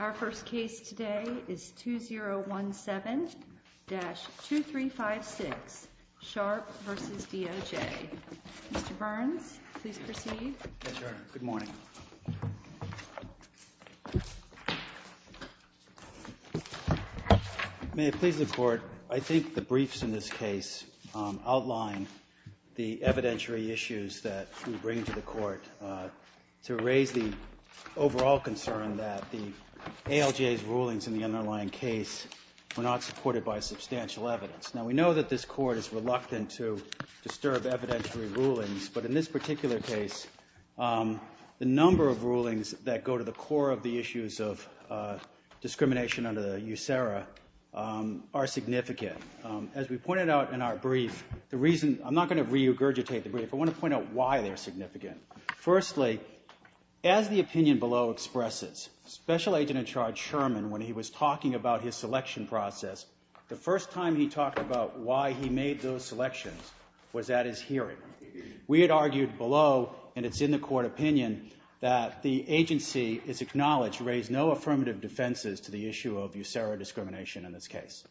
Our first case today is 2017-2356, Sharpe v. DOJ. Mr. Burns, please proceed. Yes, Your Honor. Good morning. May it please the Court, I think the briefs in this case outline the evidentiary issues that we bring to the Court to raise the overall concern that the ALJ's rulings in the underlying case were not supported by substantial evidence. Now, we know that this Court is reluctant to disturb evidentiary rulings, but in this particular case, the number of rulings that go to the core of the issues of discrimination under the USERRA are significant. As we pointed out in our brief, the reason – I'm not going to regurgitate the brief. I want to point out why they're significant. Firstly, as the opinion below expresses, Special Agent-in-Charge Sherman, when he was talking about his selection process, the first time he talked about why he made those selections was at his hearing. We had argued below, and it's in the Court opinion, that the agency is acknowledged to raise no affirmative defenses to the issue of USERRA discrimination in this case.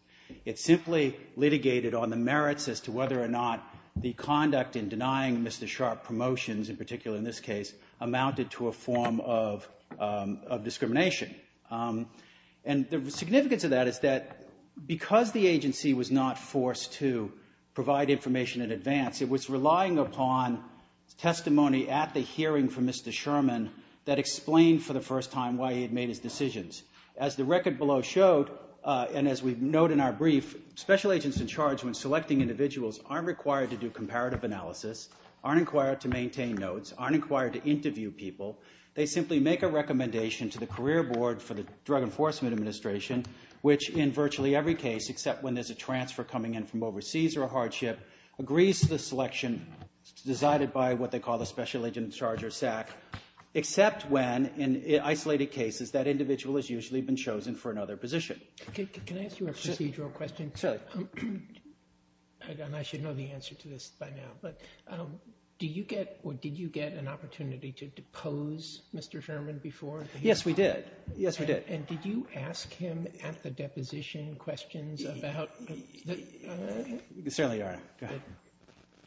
It simply litigated on the merits as to whether or not the conduct in denying Mr. Sharp promotions, in particular in this case, amounted to a form of discrimination. And the significance of that is that because the agency was not forced to provide information in advance, it was relying upon testimony at the hearing from Mr. Sherman that explained for the first time why he had made his decisions. As the record below showed, and as we note in our brief, Special Agents-in-Charge, when selecting individuals, aren't required to do comparative analysis, aren't required to maintain notes, aren't required to interview people. They simply make a recommendation to the career board for the Drug Enforcement Administration, which in virtually every case, except when there's a transfer coming in from overseas or a hardship, agrees to the selection decided by what they call the Special Agent-in-Charge or SAC. Except when, in isolated cases, that individual has usually been chosen for another position. Can I ask you a procedural question? Certainly. And I should know the answer to this by now. But did you get an opportunity to depose Mr. Sherman before the hearing? Yes, we did. Yes, we did. And did you ask him at the deposition questions about the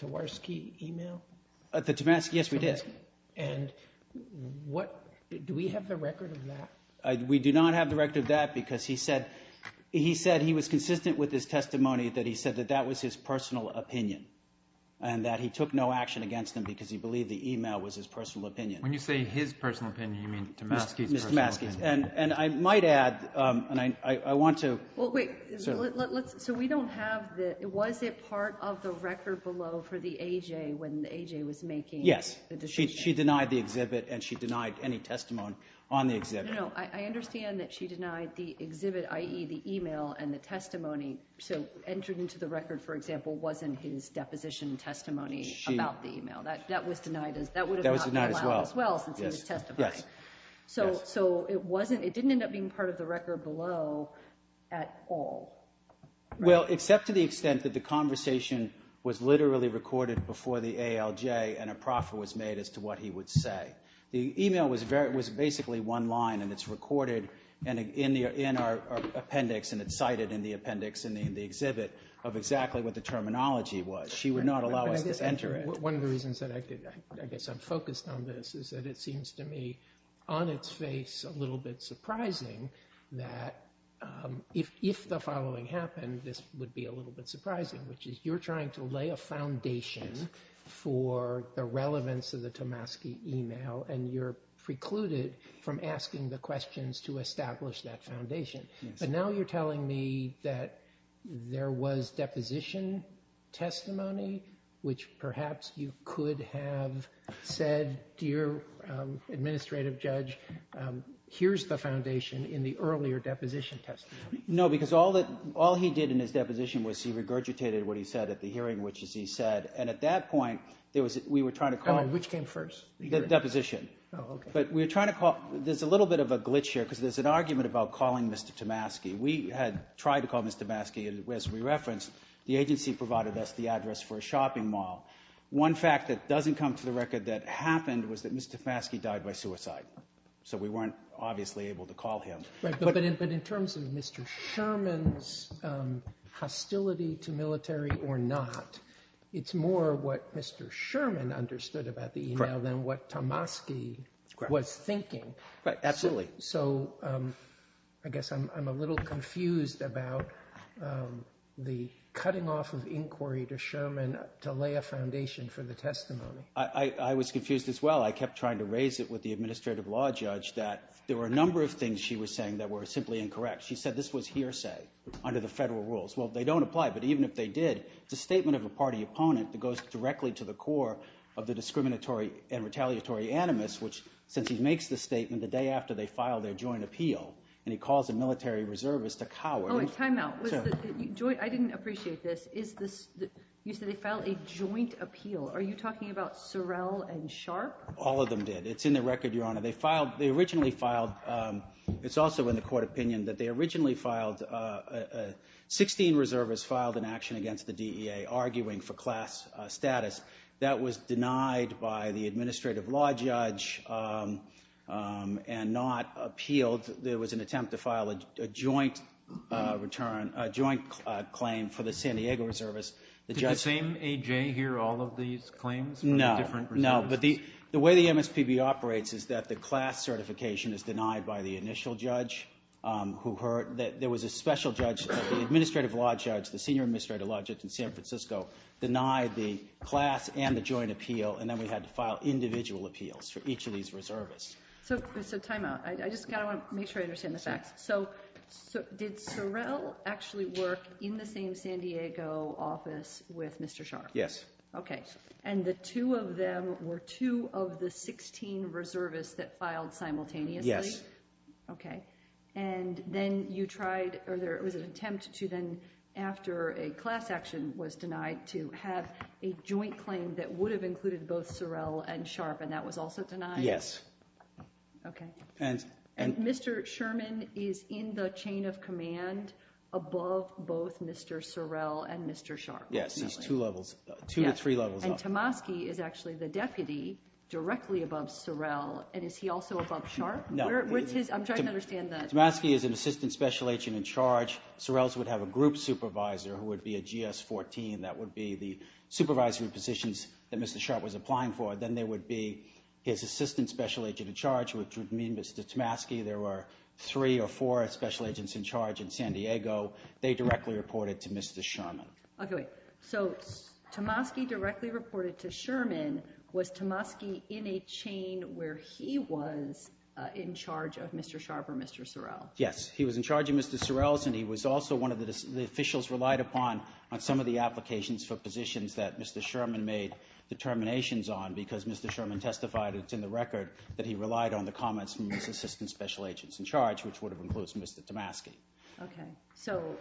Tversky email? The Tversky? Yes, we did. And do we have the record of that? We do not have the record of that because he said he was consistent with his testimony that he said that that was his personal opinion and that he took no action against him because he believed the email was his personal opinion. When you say his personal opinion, you mean Tversky's personal opinion? Mr. Tversky's. And I might add, and I want to – Well, wait. So we don't have the – was it part of the record below for the AJ when the AJ was making the decision? Yes. She denied the exhibit and she denied any testimony on the exhibit. No, no. I understand that she denied the exhibit, i.e. the email and the testimony. So entered into the record, for example, wasn't his deposition testimony about the email. That was denied as – that would have not been allowed as well since he was testifying. Yes. So it wasn't – it didn't end up being part of the record below at all. Well, except to the extent that the conversation was literally recorded before the ALJ and a proffer was made as to what he would say. The email was basically one line and it's recorded in our appendix and it's cited in the appendix in the exhibit of exactly what the terminology was. She would not allow us to enter it. One of the reasons that I guess I'm focused on this is that it seems to me on its face a little bit surprising that if the following happened, this would be a little bit surprising, which is you're trying to lay a foundation for the relevance of the Tomaski email and you're precluded from asking the questions to establish that foundation. But now you're telling me that there was deposition testimony, which perhaps you could have said to your administrative judge, here's the foundation in the earlier deposition testimony. No, because all that – all he did in his deposition was he regurgitated what he said at the hearing, which is he said – and at that point, there was – we were trying to call – Which came first? The deposition. Oh, okay. There's a little bit of a glitch here because there's an argument about calling Mr. Tomaski. We had tried to call Mr. Tomaski as we referenced. The agency provided us the address for a shopping mall. One fact that doesn't come to the record that happened was that Mr. Tomaski died by suicide, so we weren't obviously able to call him. But in terms of Mr. Sherman's hostility to military or not, it's more what Mr. Sherman understood about the email than what Tomaski was thinking. Absolutely. So I guess I'm a little confused about the cutting off of inquiry to Sherman to lay a foundation for the testimony. I was confused as well. I kept trying to raise it with the administrative law judge that there were a number of things she was saying that were simply incorrect. She said this was hearsay under the federal rules. Well, they don't apply, but even if they did, it's a statement of a party opponent that goes directly to the core of the discriminatory and retaliatory animus, which since he makes the statement the day after they file their joint appeal and he calls a military reservist a coward. Oh, a timeout. I didn't appreciate this. Is this – you said they filed a joint appeal. Are you talking about Sorrell and Sharp? All of them did. It's in the record, Your Honor. They filed – they originally filed – it's also in the court opinion that they originally filed – 16 reservists filed an action against the DEA arguing for class status. That was denied by the administrative law judge and not appealed. There was an attempt to file a joint return – a joint claim for the San Diego reservists. Did the same A.J. hear all of these claims? No, no. But the way the MSPB operates is that the class certification is denied by the initial judge who heard – there was a special judge, the administrative law judge, the senior administrative law judge in San Francisco denied the class and the joint appeal, and then we had to file individual appeals for each of these reservists. So, timeout. I just kind of want to make sure I understand the facts. So, did Sorrell actually work in the same San Diego office with Mr. Sharp? Yes. Okay. And the two of them were two of the 16 reservists that filed simultaneously? Yes. Okay. And then you tried – or there was an attempt to then, after a class action was denied, to have a joint claim that would have included both Sorrell and Sharp, and that was also denied? Yes. Okay. And Mr. Sherman is in the chain of command above both Mr. Sorrell and Mr. Sharp. Yes, he's two levels – two to three levels up. And Tomaski is actually the deputy directly above Sorrell, and is he also above Sharp? No. Where's his – I'm trying to understand that. Tomaski is an assistant special agent in charge. Sorrell would have a group supervisor who would be a GS-14. That would be the supervisory positions that Mr. Sharp was applying for. Then there would be his assistant special agent in charge, which would mean Mr. Tomaski. There were three or four special agents in charge in San Diego. They directly reported to Mr. Sherman. Okay. So Tomaski directly reported to Sherman. Was Tomaski in a chain where he was in charge of Mr. Sharp or Mr. Sorrell? Yes. He was in charge of Mr. Sorrell's, and he was also one of the – the officials relied upon on some of the applications for positions that Mr. Sherman made determinations on because Mr. Sherman testified that it's in the record that he relied on the comments from his assistant special agents in charge, which would have included Mr. Tomaski. Okay. So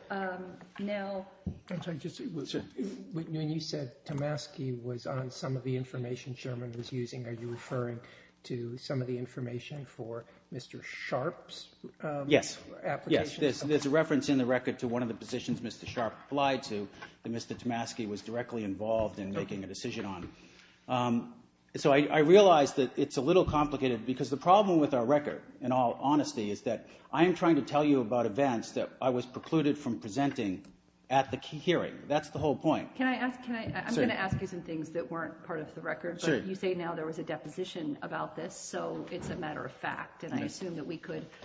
now – I'm sorry. You said Tomaski was on some of the information Sherman was using. Are you referring to some of the information for Mr. Sharp's applications? Yes. There's a reference in the record to one of the positions Mr. Sharp applied to that Mr. Tomaski was directly involved in making a decision on. So I realize that it's a little complicated because the problem with our record, in all honesty, is that I am trying to tell you about events that I was precluded from presenting at the hearing. That's the whole point. Can I ask – I'm going to ask you some things that weren't part of the record. Sure. But you say now there was a deposition about this, so it's a matter of fact. And I assume that we could –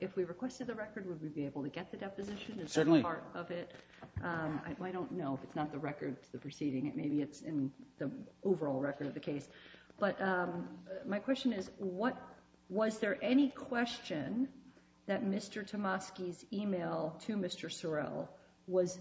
if we requested the record, would we be able to get the deposition? Certainly. Is that part of it? I don't know if it's not the record to the proceeding. Maybe it's in the overall record of the case. But my question is, was there any question that Mr. Tomaski's email to Mr. Sorrell was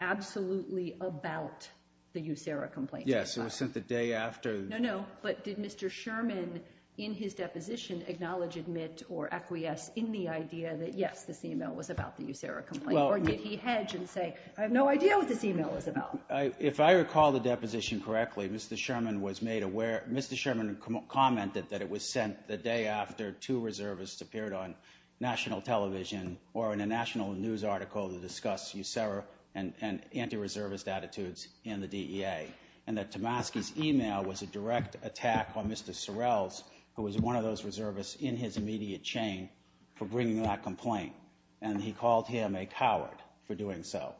absolutely about the USERRA complaint? Yes. It was sent the day after. No, no. But did Mr. Sherman, in his deposition, acknowledge, admit, or acquiesce in the idea that, yes, this email was about the USERRA complaint? Or did he hedge and say, I have no idea what this email was about? If I recall the deposition correctly, Mr. Sherman was made aware – Mr. Sherman commented that it was sent the day after two reservists appeared on national television or in a national news article to discuss USERRA and anti-reservist attitudes in the DEA, and that Tomaski's email was a direct attack on Mr. Sorrell's, who was one of those reservists in his immediate chain, for bringing that complaint. And he called him a coward for doing so.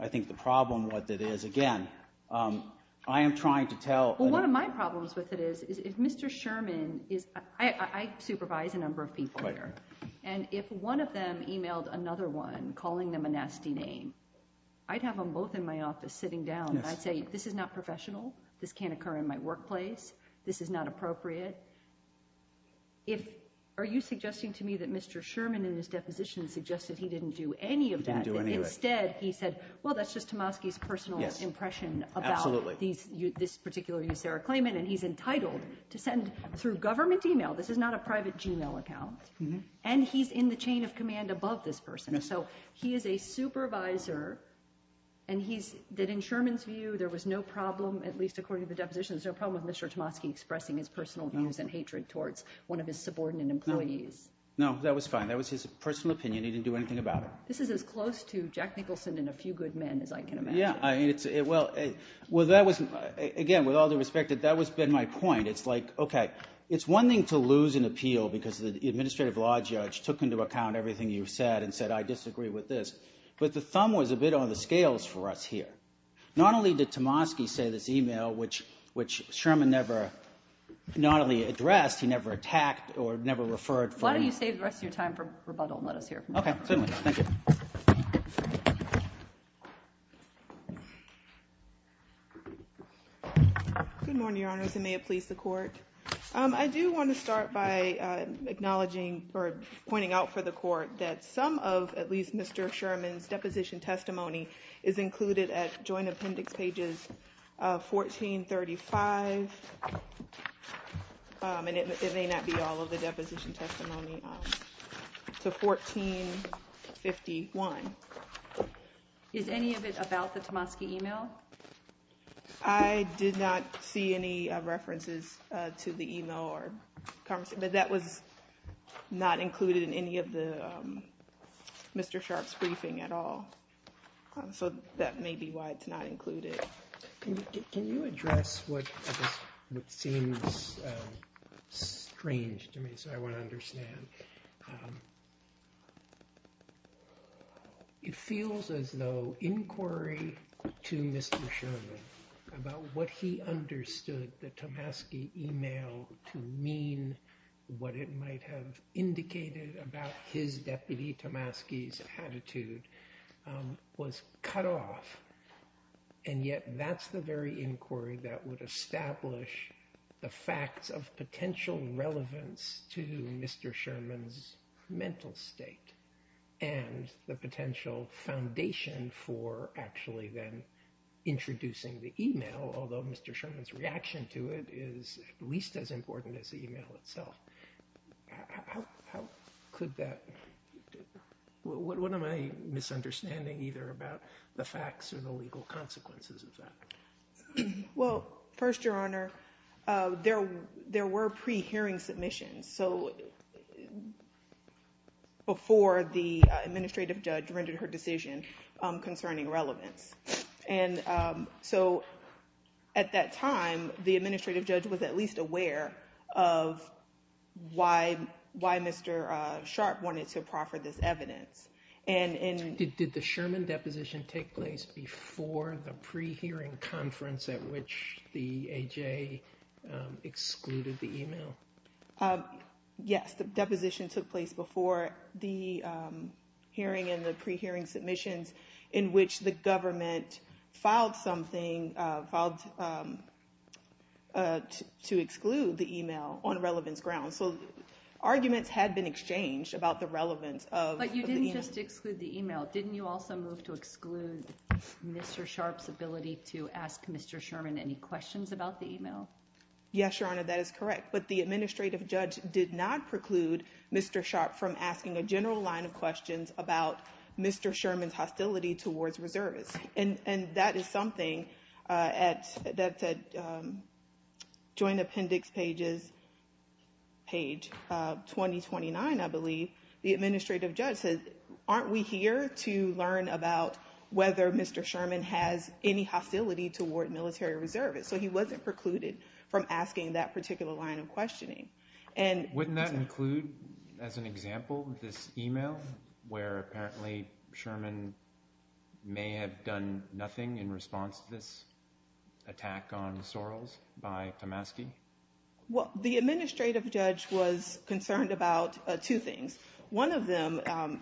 I think the problem with it is, again, I am trying to tell – Well, one of my problems with it is if Mr. Sherman is – I supervise a number of people here. And if one of them emailed another one calling them a nasty name, I'd have them both in my office sitting down. And I'd say, this is not professional. This can't occur in my workplace. This is not appropriate. Are you suggesting to me that Mr. Sherman in his deposition suggested he didn't do any of that? He didn't do any of it. Instead, he said, well, that's just Tomaski's personal impression about this particular USERRA claimant, and he's entitled to send through government email – this is not a private Gmail account – and he's in the chain of command above this person. So he is a supervisor, and he's – that in Sherman's view, there was no problem, at least according to the deposition, there was no problem with Mr. Tomaski expressing his personal views and hatred towards one of his subordinate employees. No, that was fine. That was his personal opinion. He didn't do anything about it. This is as close to Jack Nicholson and a few good men as I can imagine. Yeah. Well, that was – again, with all due respect, that has been my point. It's like, okay, it's one thing to lose an appeal because the administrative law judge took into account everything you said and said, I disagree with this. But the thumb was a bit on the scales for us here. Not only did Tomaski say this email, which Sherman never – not only addressed, he never attacked or never referred from – Why don't you save the rest of your time for rebuttal and let us hear from you? Okay. Certainly. Thank you. Good morning, Your Honors, and may it please the Court. I do want to start by acknowledging or pointing out for the Court that some of, at least, Mr. Sherman's deposition testimony is included at Joint Appendix pages 1435. And it may not be all of the deposition testimony. So 1451. Is any of it about the Tomaski email? I did not see any references to the email or – but that was not included in any of the – Mr. Sharp's briefing at all. So that may be why it's not included. Can you address what seems strange to me, so I would understand? It feels as though inquiry to Mr. Sherman about what he understood the Tomaski email to mean, what it might have indicated about his, Deputy Tomaski's attitude, was cut off. And yet that's the very inquiry that would establish the facts of potential relevance to Mr. Sherman's mental state and the potential foundation for actually then introducing the email, although Mr. Sherman's reaction to it is at least as important as the email itself. How could that – what am I misunderstanding either about the facts or the legal consequences of that? Well, first, Your Honor, there were pre-hearing submissions, so before the administrative judge rendered her decision concerning relevance. And so at that time, the administrative judge was at least aware of why Mr. Sharp wanted to proffer this evidence. Did the Sherman deposition take place before the pre-hearing conference at which the A.J. excluded the email? Yes, the deposition took place before the hearing and the pre-hearing submissions in which the government filed something to exclude the email on relevance grounds. So arguments had been exchanged about the relevance of the email. But you didn't just exclude the email. Didn't you also move to exclude Mr. Sharp's ability to ask Mr. Sherman any questions about the email? Yes, Your Honor, that is correct. But the administrative judge did not preclude Mr. Sharp from asking a general line of questions about Mr. Sherman's hostility towards reservists. And that is something that's at Joint Appendix page 2029, I believe. The administrative judge said, aren't we here to learn about whether Mr. Sherman has any hostility toward military reservists? So he wasn't precluded from asking that particular line of questioning. Wouldn't that include, as an example, this email where apparently Sherman may have done nothing in response to this attack on Sorrells by Tomaski? Well, the administrative judge was concerned about two things. One of them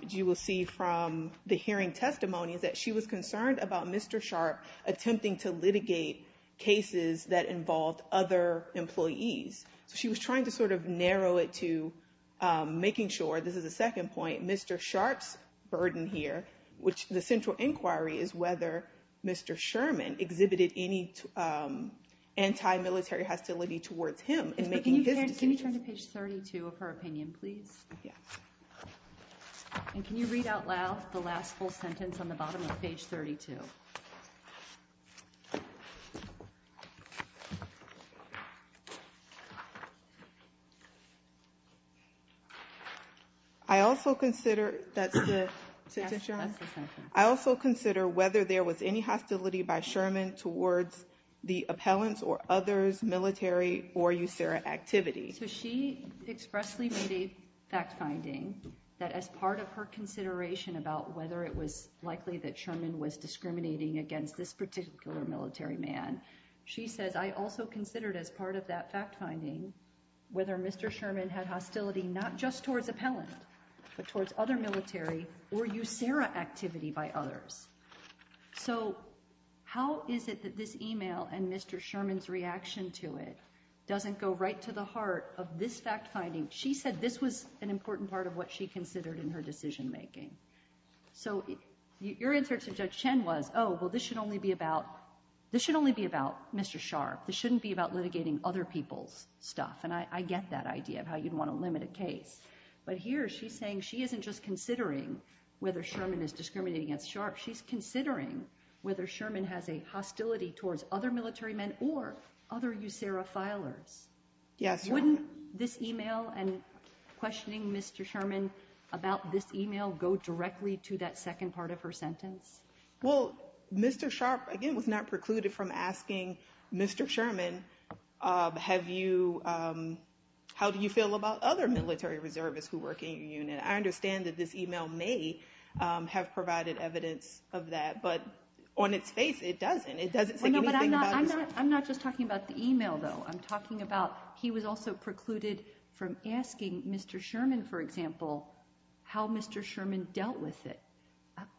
you will see from the hearing testimony is that she was concerned about Mr. Sharp attempting to litigate cases that involved other employees. She was trying to sort of narrow it to making sure, this is a second point, Mr. Sharp's burden here, which the central inquiry is whether Mr. Sherman exhibited any anti-military hostility towards him. Can you turn to page 32 of her opinion, please? And can you read out loud the last full sentence on the bottom of page 32? I also consider whether there was any hostility by Sherman towards the appellants or others, military, or USARA activity. So she expressly made a fact-finding that as part of her consideration about whether it was likely that Sherman was discriminating against this particular military man, she says, I also considered as part of that fact-finding whether Mr. Sherman had hostility not just towards appellant, but towards other military or USARA activity by others. So how is it that this email and Mr. Sherman's reaction to it doesn't go right to the heart of this fact-finding? She said this was an important part of what she considered in her decision-making. So your answer to Judge Chen was, oh, well, this should only be about Mr. Sharp. This shouldn't be about litigating other people's stuff. And I get that idea of how you'd want to limit a case. But here she's saying she isn't just considering whether Sherman is discriminating against Sharp. She's considering whether Sherman has a hostility towards other military men or other USARA filers. Wouldn't this email and questioning Mr. Sherman about this email go directly to that second part of her sentence? Well, Mr. Sharp, again, was not precluded from asking Mr. Sherman, have you – how do you feel about other military reservists who work in your unit? I understand that this email may have provided evidence of that. But on its face, it doesn't. It doesn't say anything about his – I'm not just talking about the email, though. I'm talking about he was also precluded from asking Mr. Sherman, for example, how Mr. Sherman dealt with it.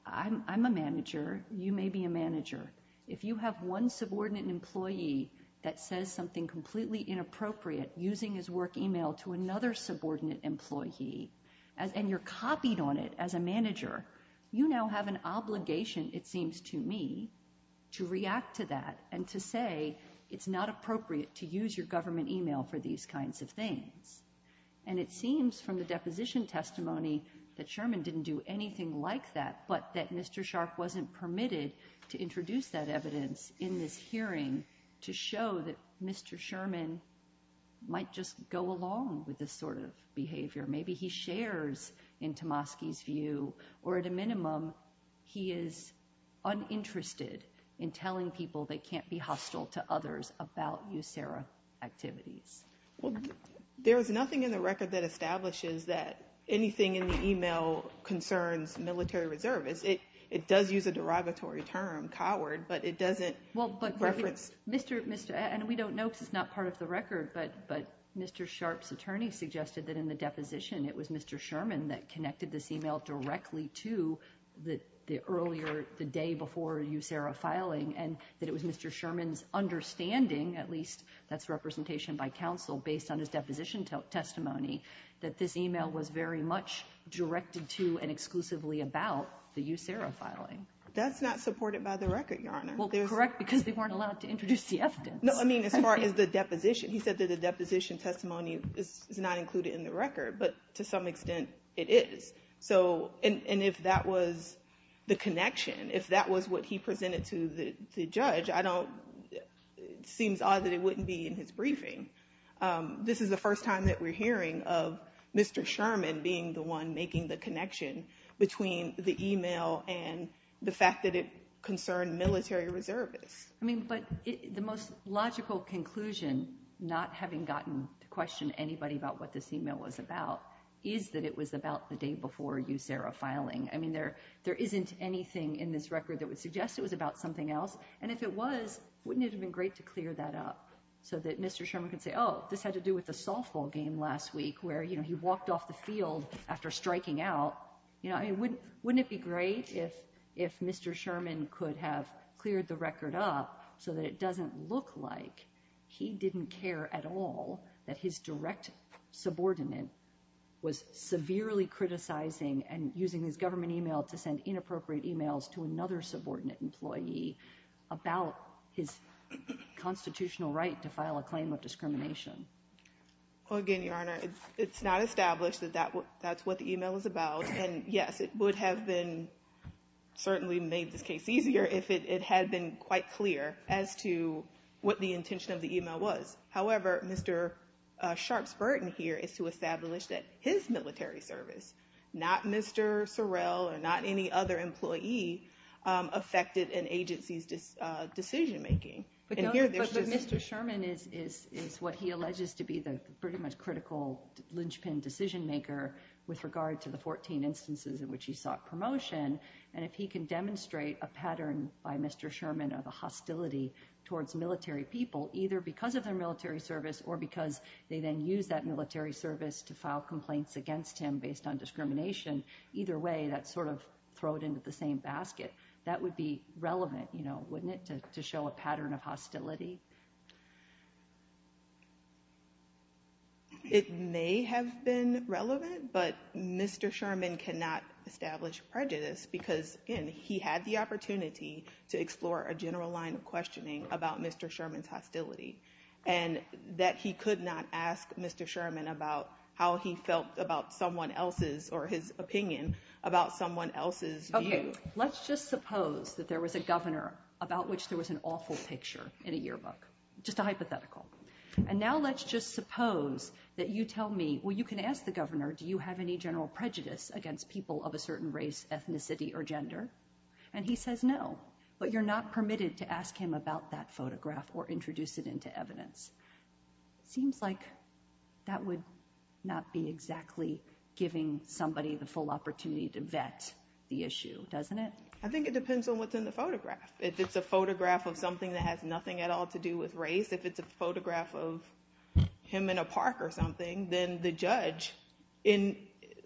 I'm a manager. You may be a manager. If you have one subordinate employee that says something completely inappropriate using his work email to another subordinate employee and you're copied on it as a manager, you now have an obligation, it seems to me, to react to that and to say it's not appropriate to use your government email for these kinds of things. And it seems from the deposition testimony that Sherman didn't do anything like that, but that Mr. Sharp wasn't permitted to introduce that evidence in this hearing to show that Mr. Sherman might just go along with this sort of behavior. Maybe he shares in Tomosky's view, or at a minimum, he is uninterested in telling people they can't be hostile to others about USARA activities. Well, there is nothing in the record that establishes that anything in the email concerns military reservists. It does use a derogatory term, coward, but it doesn't reference – Well, but Mr. – and we don't know because it's not part of the record, but Mr. Sharp's attorney suggested that in the deposition it was Mr. Sherman that connected this email directly to the earlier – the day before USARA filing and that it was Mr. Sherman's understanding, at least that's representation by counsel based on his deposition testimony, that this email was very much directed to and exclusively about the USARA filing. That's not supported by the record, Your Honor. Well, correct, because they weren't allowed to introduce the evidence. No, I mean, as far as the deposition, he said that the deposition testimony is not included in the record, but to some extent it is. So – and if that was the connection, if that was what he presented to the judge, I don't – it seems odd that it wouldn't be in his briefing. This is the first time that we're hearing of Mr. Sherman being the one making the connection between the email and the fact that it concerned military reservists. I mean, but the most logical conclusion, not having gotten to question anybody about what this email was about, is that it was about the day before USARA filing. I mean, there isn't anything in this record that would suggest it was about something else, and if it was, wouldn't it have been great to clear that up so that Mr. Sherman could say, oh, this had to do with the softball game last week where, you know, he walked off the field after striking out. You know, I mean, wouldn't it be great if Mr. Sherman could have cleared the record up so that it doesn't look like he didn't care at all that his direct subordinate was severely criticizing and using this government email to send inappropriate emails to another subordinate employee about his constitutional right to file a claim of discrimination. Well, again, Your Honor, it's not established that that's what the email was about. And yes, it would have been certainly made this case easier if it had been quite clear as to what the intention of the email was. However, Mr. Sharpe's burden here is to establish that his military service, not Mr. Sorrell or not any other employee, affected an agency's decision making. But Mr. Sherman is what he alleges to be the pretty much critical linchpin decision maker with regard to the 14 instances in which he sought promotion. And if he can demonstrate a pattern by Mr. Sherman of a hostility towards military people, either because of their military service or because they then use that military service to file complaints against him based on discrimination, either way, that's sort of thrown into the same basket. That would be relevant, you know, wouldn't it, to show a pattern of hostility? It may have been relevant, but Mr. Sherman cannot establish prejudice because, again, he had the opportunity to explore a general line of questioning about Mr. Sherman's hostility and that he could not ask Mr. Sherman about how he felt about someone else's or his opinion about someone else's view. OK, let's just suppose that there was a governor about which there was an awful picture in a yearbook, just a hypothetical. And now let's just suppose that you tell me, well, you can ask the governor, do you have any general prejudice against people of a certain race, ethnicity or gender? And he says no, but you're not permitted to ask him about that photograph or introduce it into evidence. Seems like that would not be exactly giving somebody the full opportunity to vet the issue, doesn't it? I think it depends on what's in the photograph. If it's a photograph of something that has nothing at all to do with race, if it's a photograph of him in a park or something, then the judge, in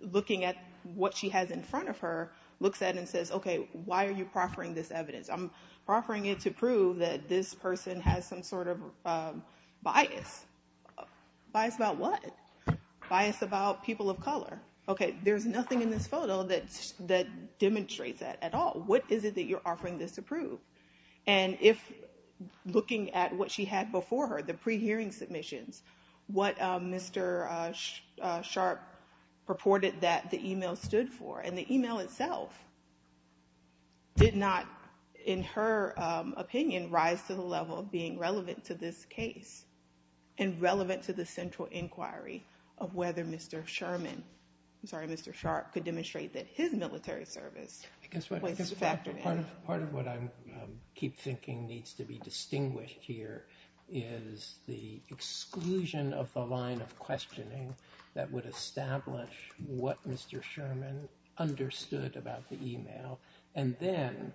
looking at what she has in front of her, looks at it and says, OK, why are you proffering this evidence? I'm offering it to prove that this person has some sort of bias. Bias about what? Bias about people of color. OK, there's nothing in this photo that demonstrates that at all. What is it that you're offering this to prove? And if looking at what she had before her, the pre-hearing submissions, what Mr. Sharp purported that the e-mail stood for and the e-mail itself did not, in her opinion, rise to the level of being relevant to this case and relevant to the central inquiry of whether Mr. Sherman, I'm sorry, Mr. Sharp could demonstrate that his military service. Part of what I keep thinking needs to be distinguished here is the exclusion of the line of questioning that would establish what Mr. Sherman understood about the e-mail. And then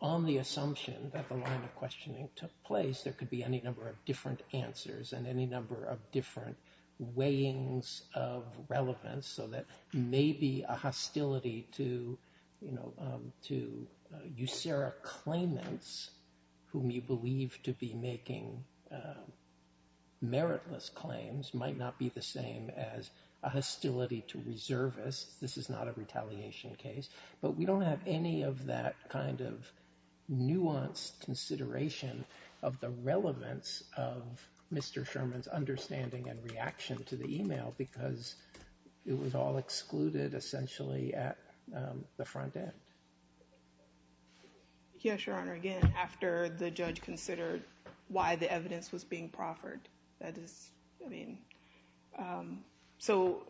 on the assumption that the line of questioning took place, there could be any number of different answers and any number of different weighings of relevance so that maybe a hostility to, you know, to usurer claimants whom you believe to be making meritless claims might not be the same as a hostility to reservists. This is not a retaliation case, but we don't have any of that kind of nuanced consideration of the relevance of Mr. Sherman's understanding and reaction to the e-mail because it was all excluded essentially at the front end. Yes, Your Honor, again, after the judge considered why the evidence was being proffered, that is, I mean, so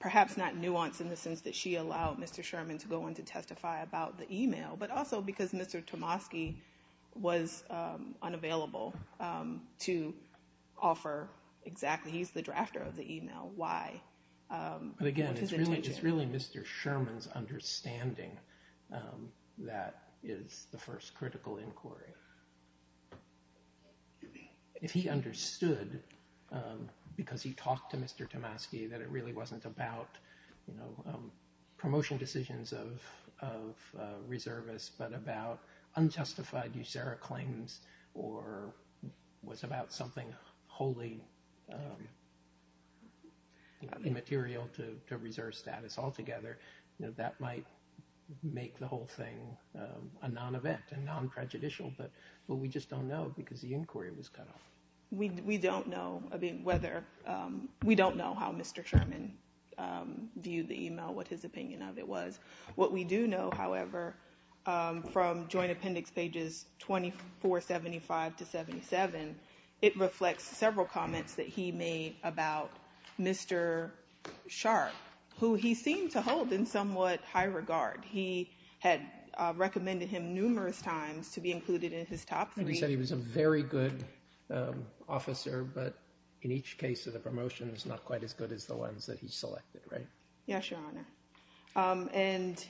perhaps not nuanced in the sense that she allowed Mr. Sherman to go in to testify about the e-mail, but also because Mr. Tomosky was unavailable to offer exactly. He's the drafter of the e-mail. Why? Again, it's really just really Mr. Sherman's understanding that is the first critical inquiry. If he understood because he talked to Mr. Tomosky that it really wasn't about, you know, reservists but about unjustified usurer claims or was about something wholly immaterial to reserve status altogether, that might make the whole thing a non-event and non-prejudicial. But we just don't know because the inquiry was cut off. We don't know whether we don't know how Mr. Sherman viewed the e-mail, what his opinion of it was. What we do know, however, from Joint Appendix Pages 2475 to 77, it reflects several comments that he made about Mr. Sharp, who he seemed to hold in somewhat high regard. He had recommended him numerous times to be included in his top three. And he said he was a very good officer, but in each case of the promotion, it's not quite as good as the ones that he selected, right? Yes, Your Honor. And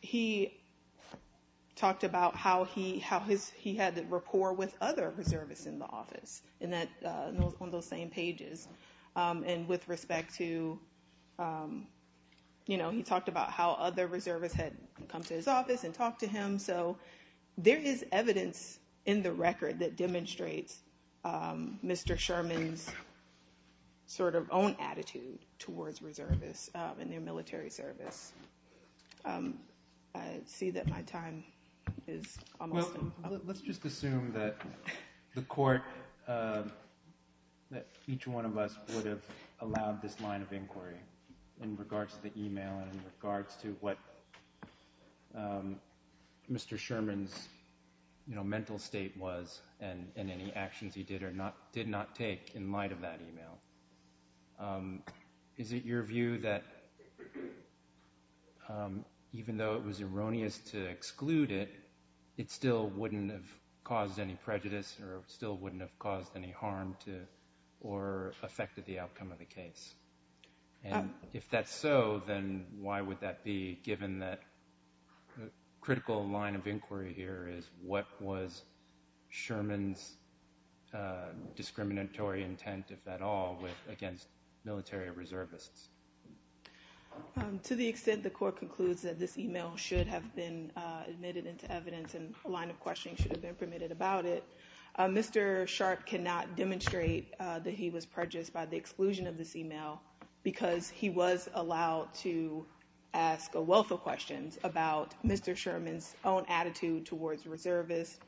he talked about how he had the rapport with other reservists in the office on those same pages. And with respect to, you know, he talked about how other reservists had come to his office and talked to him. So there is evidence in the record that demonstrates Mr. Sherman's sort of own attitude towards reservists and their military service. I see that my time is almost up. Well, let's just assume that the court, that each one of us would have allowed this line of inquiry in regards to the e-mail and in regards to what Mr. Sherman's, you know, mental state was and any actions he did or did not take in light of that e-mail. Is it your view that even though it was erroneous to exclude it, it still wouldn't have caused any prejudice or still wouldn't have caused any harm to or affected the outcome of the case? And if that's so, then why would that be, given that the critical line of inquiry here is what was Sherman's discriminatory intent, if at all, against military reservists? To the extent the court concludes that this e-mail should have been admitted into evidence and a line of questioning should have been permitted about it, Mr. Sharpe cannot demonstrate that he was prejudiced by the exclusion of this e-mail because he was allowed to ask a wealth of questions about Mr. Sherman's own attitude towards reservists.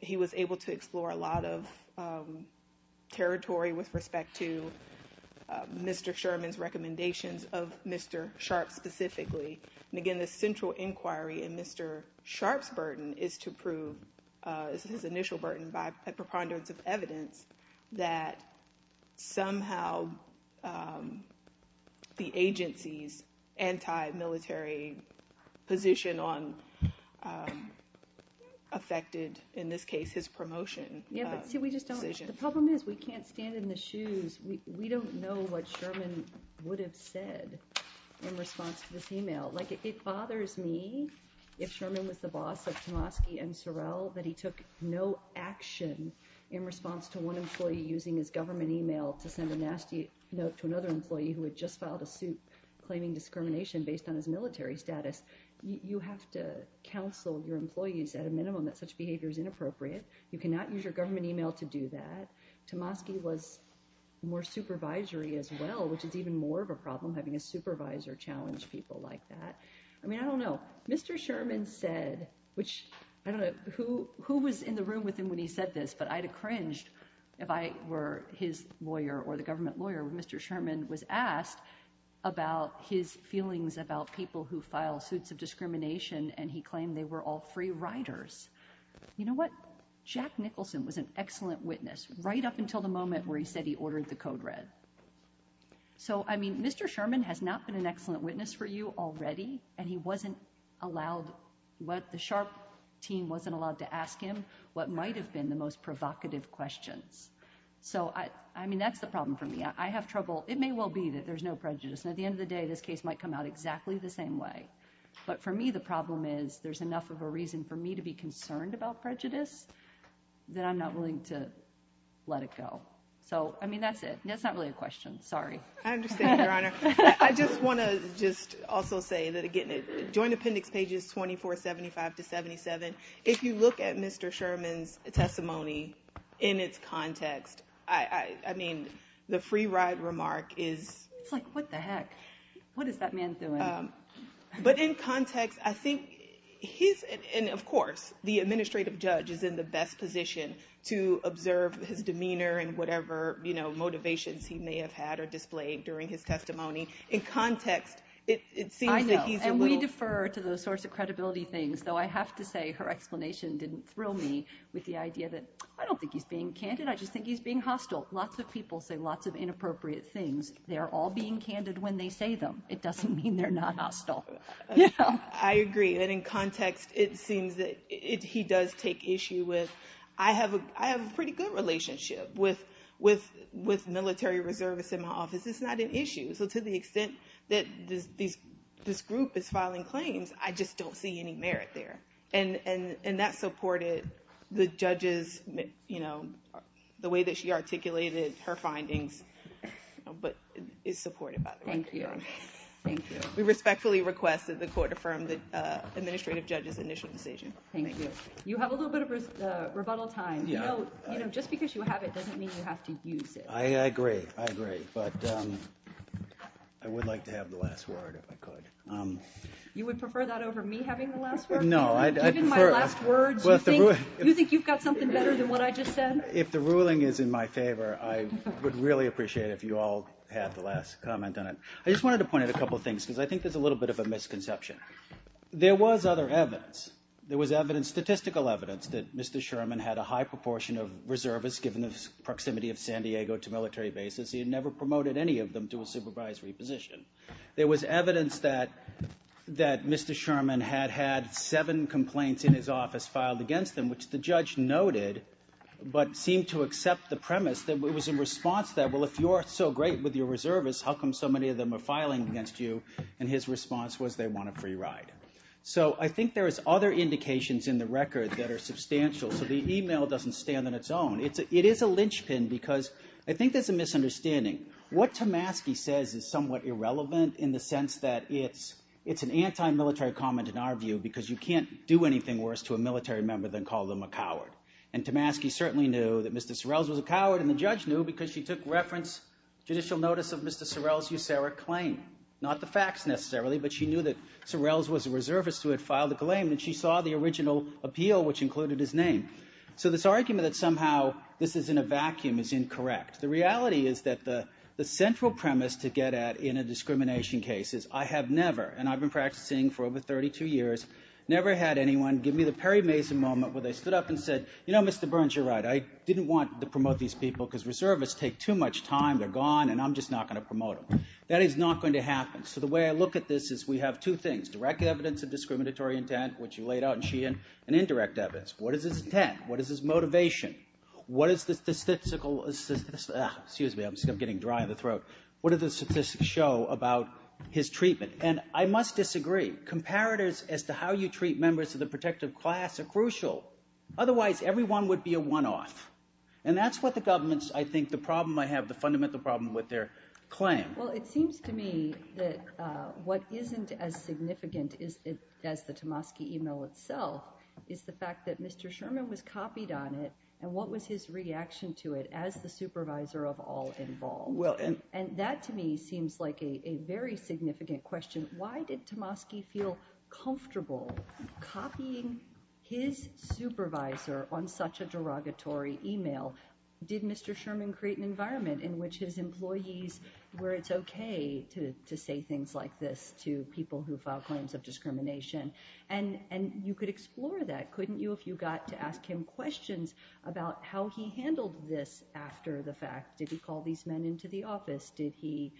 He was able to explore a lot of territory with respect to Mr. Sherman's recommendations of Mr. Sharpe specifically. And, again, the central inquiry in Mr. Sharpe's burden is to prove, this is his initial burden by a preponderance of evidence, that somehow the agency's anti-military position affected, in this case, his promotion decision. Yeah, but see, we just don't – the problem is we can't stand in the shoes. We don't know what Sherman would have said in response to this e-mail. Like, it bothers me, if Sherman was the boss of Tomosky and Sorrell, that he took no action in response to one employee using his government e-mail to send a nasty note to another employee who had just filed a suit claiming discrimination based on his military status. You have to counsel your employees at a minimum that such behavior is inappropriate. You cannot use your government e-mail to do that. Tomosky was more supervisory as well, which is even more of a problem, having a supervisor challenge people like that. I mean, I don't know. Mr. Sherman said, which – I don't know who was in the room with him when he said this, but I'd have cringed if I were his lawyer or the government lawyer when Mr. Sherman was asked about his feelings about people who file suits of discrimination, and he claimed they were all free riders. You know what? Jack Nicholson was an excellent witness right up until the moment where he said he ordered the code red. So, I mean, Mr. Sherman has not been an excellent witness for you already, and he wasn't allowed – the SHARP team wasn't allowed to ask him what might have been the most provocative questions. So, I mean, that's the problem for me. I have trouble – it may well be that there's no prejudice, and at the end of the day, this case might come out exactly the same way. But for me, the problem is there's enough of a reason for me to be concerned about prejudice that I'm not willing to let it go. So, I mean, that's it. That's not really a question. Sorry. I understand, Your Honor. I just want to just also say that, again, Joint Appendix pages 24, 75 to 77, if you look at Mr. Sherman's testimony in its context, I mean, the free ride remark is – It's like, what the heck? What is that man doing? But in context, I think he's – and, of course, the administrative judge is in the best position to observe his demeanor and whatever motivations he may have had or displayed during his testimony. In context, it seems that he's a little – I know, and we defer to those sorts of credibility things, though I have to say her explanation didn't thrill me with the idea that I don't think he's being candid. I just think he's being hostile. Lots of people say lots of inappropriate things. They're all being candid when they say them. It doesn't mean they're not hostile. I agree. And in context, it seems that he does take issue with – I have a pretty good relationship with military reservists in my office. It's not an issue. So to the extent that this group is filing claims, I just don't see any merit there. And that supported the judge's – the way that she articulated her findings, but it's supportive, by the way. Thank you. Thank you. We respectfully request that the court affirm the administrative judge's initial decision. Thank you. You have a little bit of rebuttal time. Just because you have it doesn't mean you have to use it. I agree. I agree. But I would like to have the last word, if I could. You would prefer that over me having the last word? No. Given my last words, you think you've got something better than what I just said? If the ruling is in my favor, I would really appreciate it if you all had the last comment on it. I just wanted to point out a couple of things because I think there's a little bit of a misconception. There was other evidence. There was evidence, statistical evidence, that Mr. Sherman had a high proportion of reservists given the proximity of San Diego to military bases. He had never promoted any of them to a supervisory position. There was evidence that Mr. Sherman had had seven complaints in his office filed against him, which the judge noted but seemed to accept the premise that it was in response to that, well, if you're so great with your reservists, how come so many of them are filing against you? And his response was they want a free ride. So I think there is other indications in the record that are substantial. So the email doesn't stand on its own. It is a linchpin because I think there's a misunderstanding. What Tamaski says is somewhat irrelevant in the sense that it's an anti-military comment in our view because you can't do anything worse to a military member than call them a coward. And Tamaski certainly knew that Mr. Sorrells was a coward, and the judge knew because she took reference, judicial notice of Mr. Sorrells' USARA claim, not the facts necessarily, but she knew that Sorrells was a reservist who had filed the claim, and she saw the original appeal, which included his name. So this argument that somehow this is in a vacuum is incorrect. The reality is that the central premise to get at in a discrimination case is I have never, and I've been practicing for over 32 years, never had anyone give me the Perry Mason moment where they stood up and said, you know, Mr. Burns, you're right. I didn't want to promote these people because reservists take too much time. They're gone, and I'm just not going to promote them. That is not going to happen. So the way I look at this is we have two things, direct evidence of discriminatory intent, which you laid out in Sheehan, and indirect evidence. What is his intent? What is his motivation? What is the statistical – excuse me. I'm getting dry in the throat. What do the statistics show about his treatment? And I must disagree. Comparators as to how you treat members of the protective class are crucial. Otherwise, everyone would be a one-off, and that's what the government's, I think, the problem I have, the fundamental problem with their claim. Well, it seems to me that what isn't as significant as the Tomosky email itself is the fact that Mr. Sherman was copied on it, and what was his reaction to it as the supervisor of all involved? And that to me seems like a very significant question. Why did Tomosky feel comfortable copying his supervisor on such a derogatory email? Did Mr. Sherman create an environment in which his employees were, it's okay to say things like this to people who file claims of discrimination? And you could explore that, couldn't you, if you got to ask him questions about how he handled this after the fact. Did he call these men into the office? Did he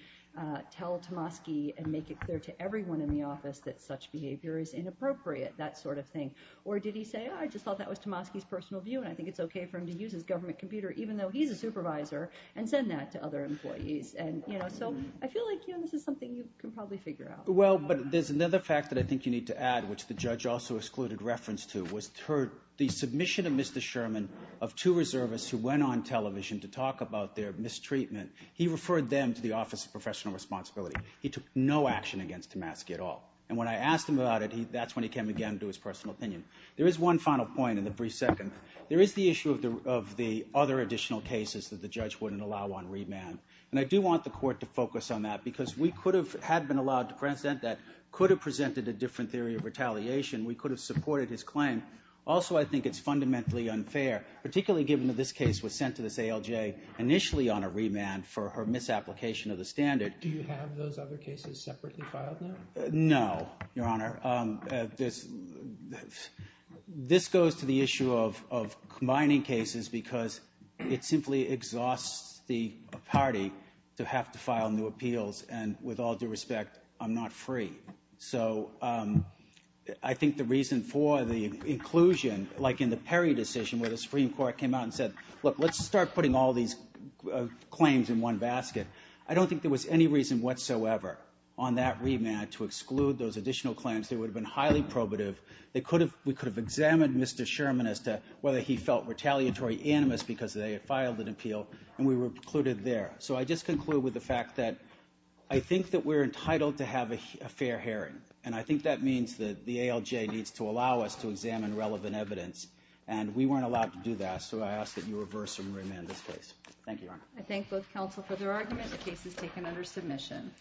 tell Tomosky and make it clear to everyone in the office that such behavior is inappropriate, that sort of thing? Or did he say, I just thought that was Tomosky's personal view, and I think it's okay for him to use his government computer, even though he's a supervisor, and send that to other employees? So I feel like this is something you can probably figure out. Well, but there's another fact that I think you need to add, which the judge also excluded reference to, was the submission of Mr. Sherman of two reservists who went on television to talk about their mistreatment. He referred them to the Office of Professional Responsibility. He took no action against Tomosky at all, and when I asked him about it, that's when he came again to his personal opinion. There is one final point in the brief second. There is the issue of the other additional cases that the judge wouldn't allow on remand, and I do want the court to focus on that because we could have had been allowed to present that could have presented a different theory of retaliation. We could have supported his claim. Also, I think it's fundamentally unfair, particularly given that this case was sent to this ALJ initially on a remand for her misapplication of the standard. Do you have those other cases separately filed now? No, Your Honor. This goes to the issue of combining cases because it simply exhausts the party to have to file new appeals, and with all due respect, I'm not free. So I think the reason for the inclusion, like in the Perry decision where the Supreme Court came out and said, look, let's start putting all these claims in one basket. I don't think there was any reason whatsoever on that remand to exclude those additional claims. They would have been highly probative. We could have examined Mr. Sherman as to whether he felt retaliatory animus because they had filed an appeal, and we were precluded there. So I just conclude with the fact that I think that we're entitled to have a fair hearing, and I think that means that the ALJ needs to allow us to examine relevant evidence, and we weren't allowed to do that, so I ask that you reverse the remand in this case. Thank you, Your Honor. I thank both counsel for their argument. The case is taken under submission.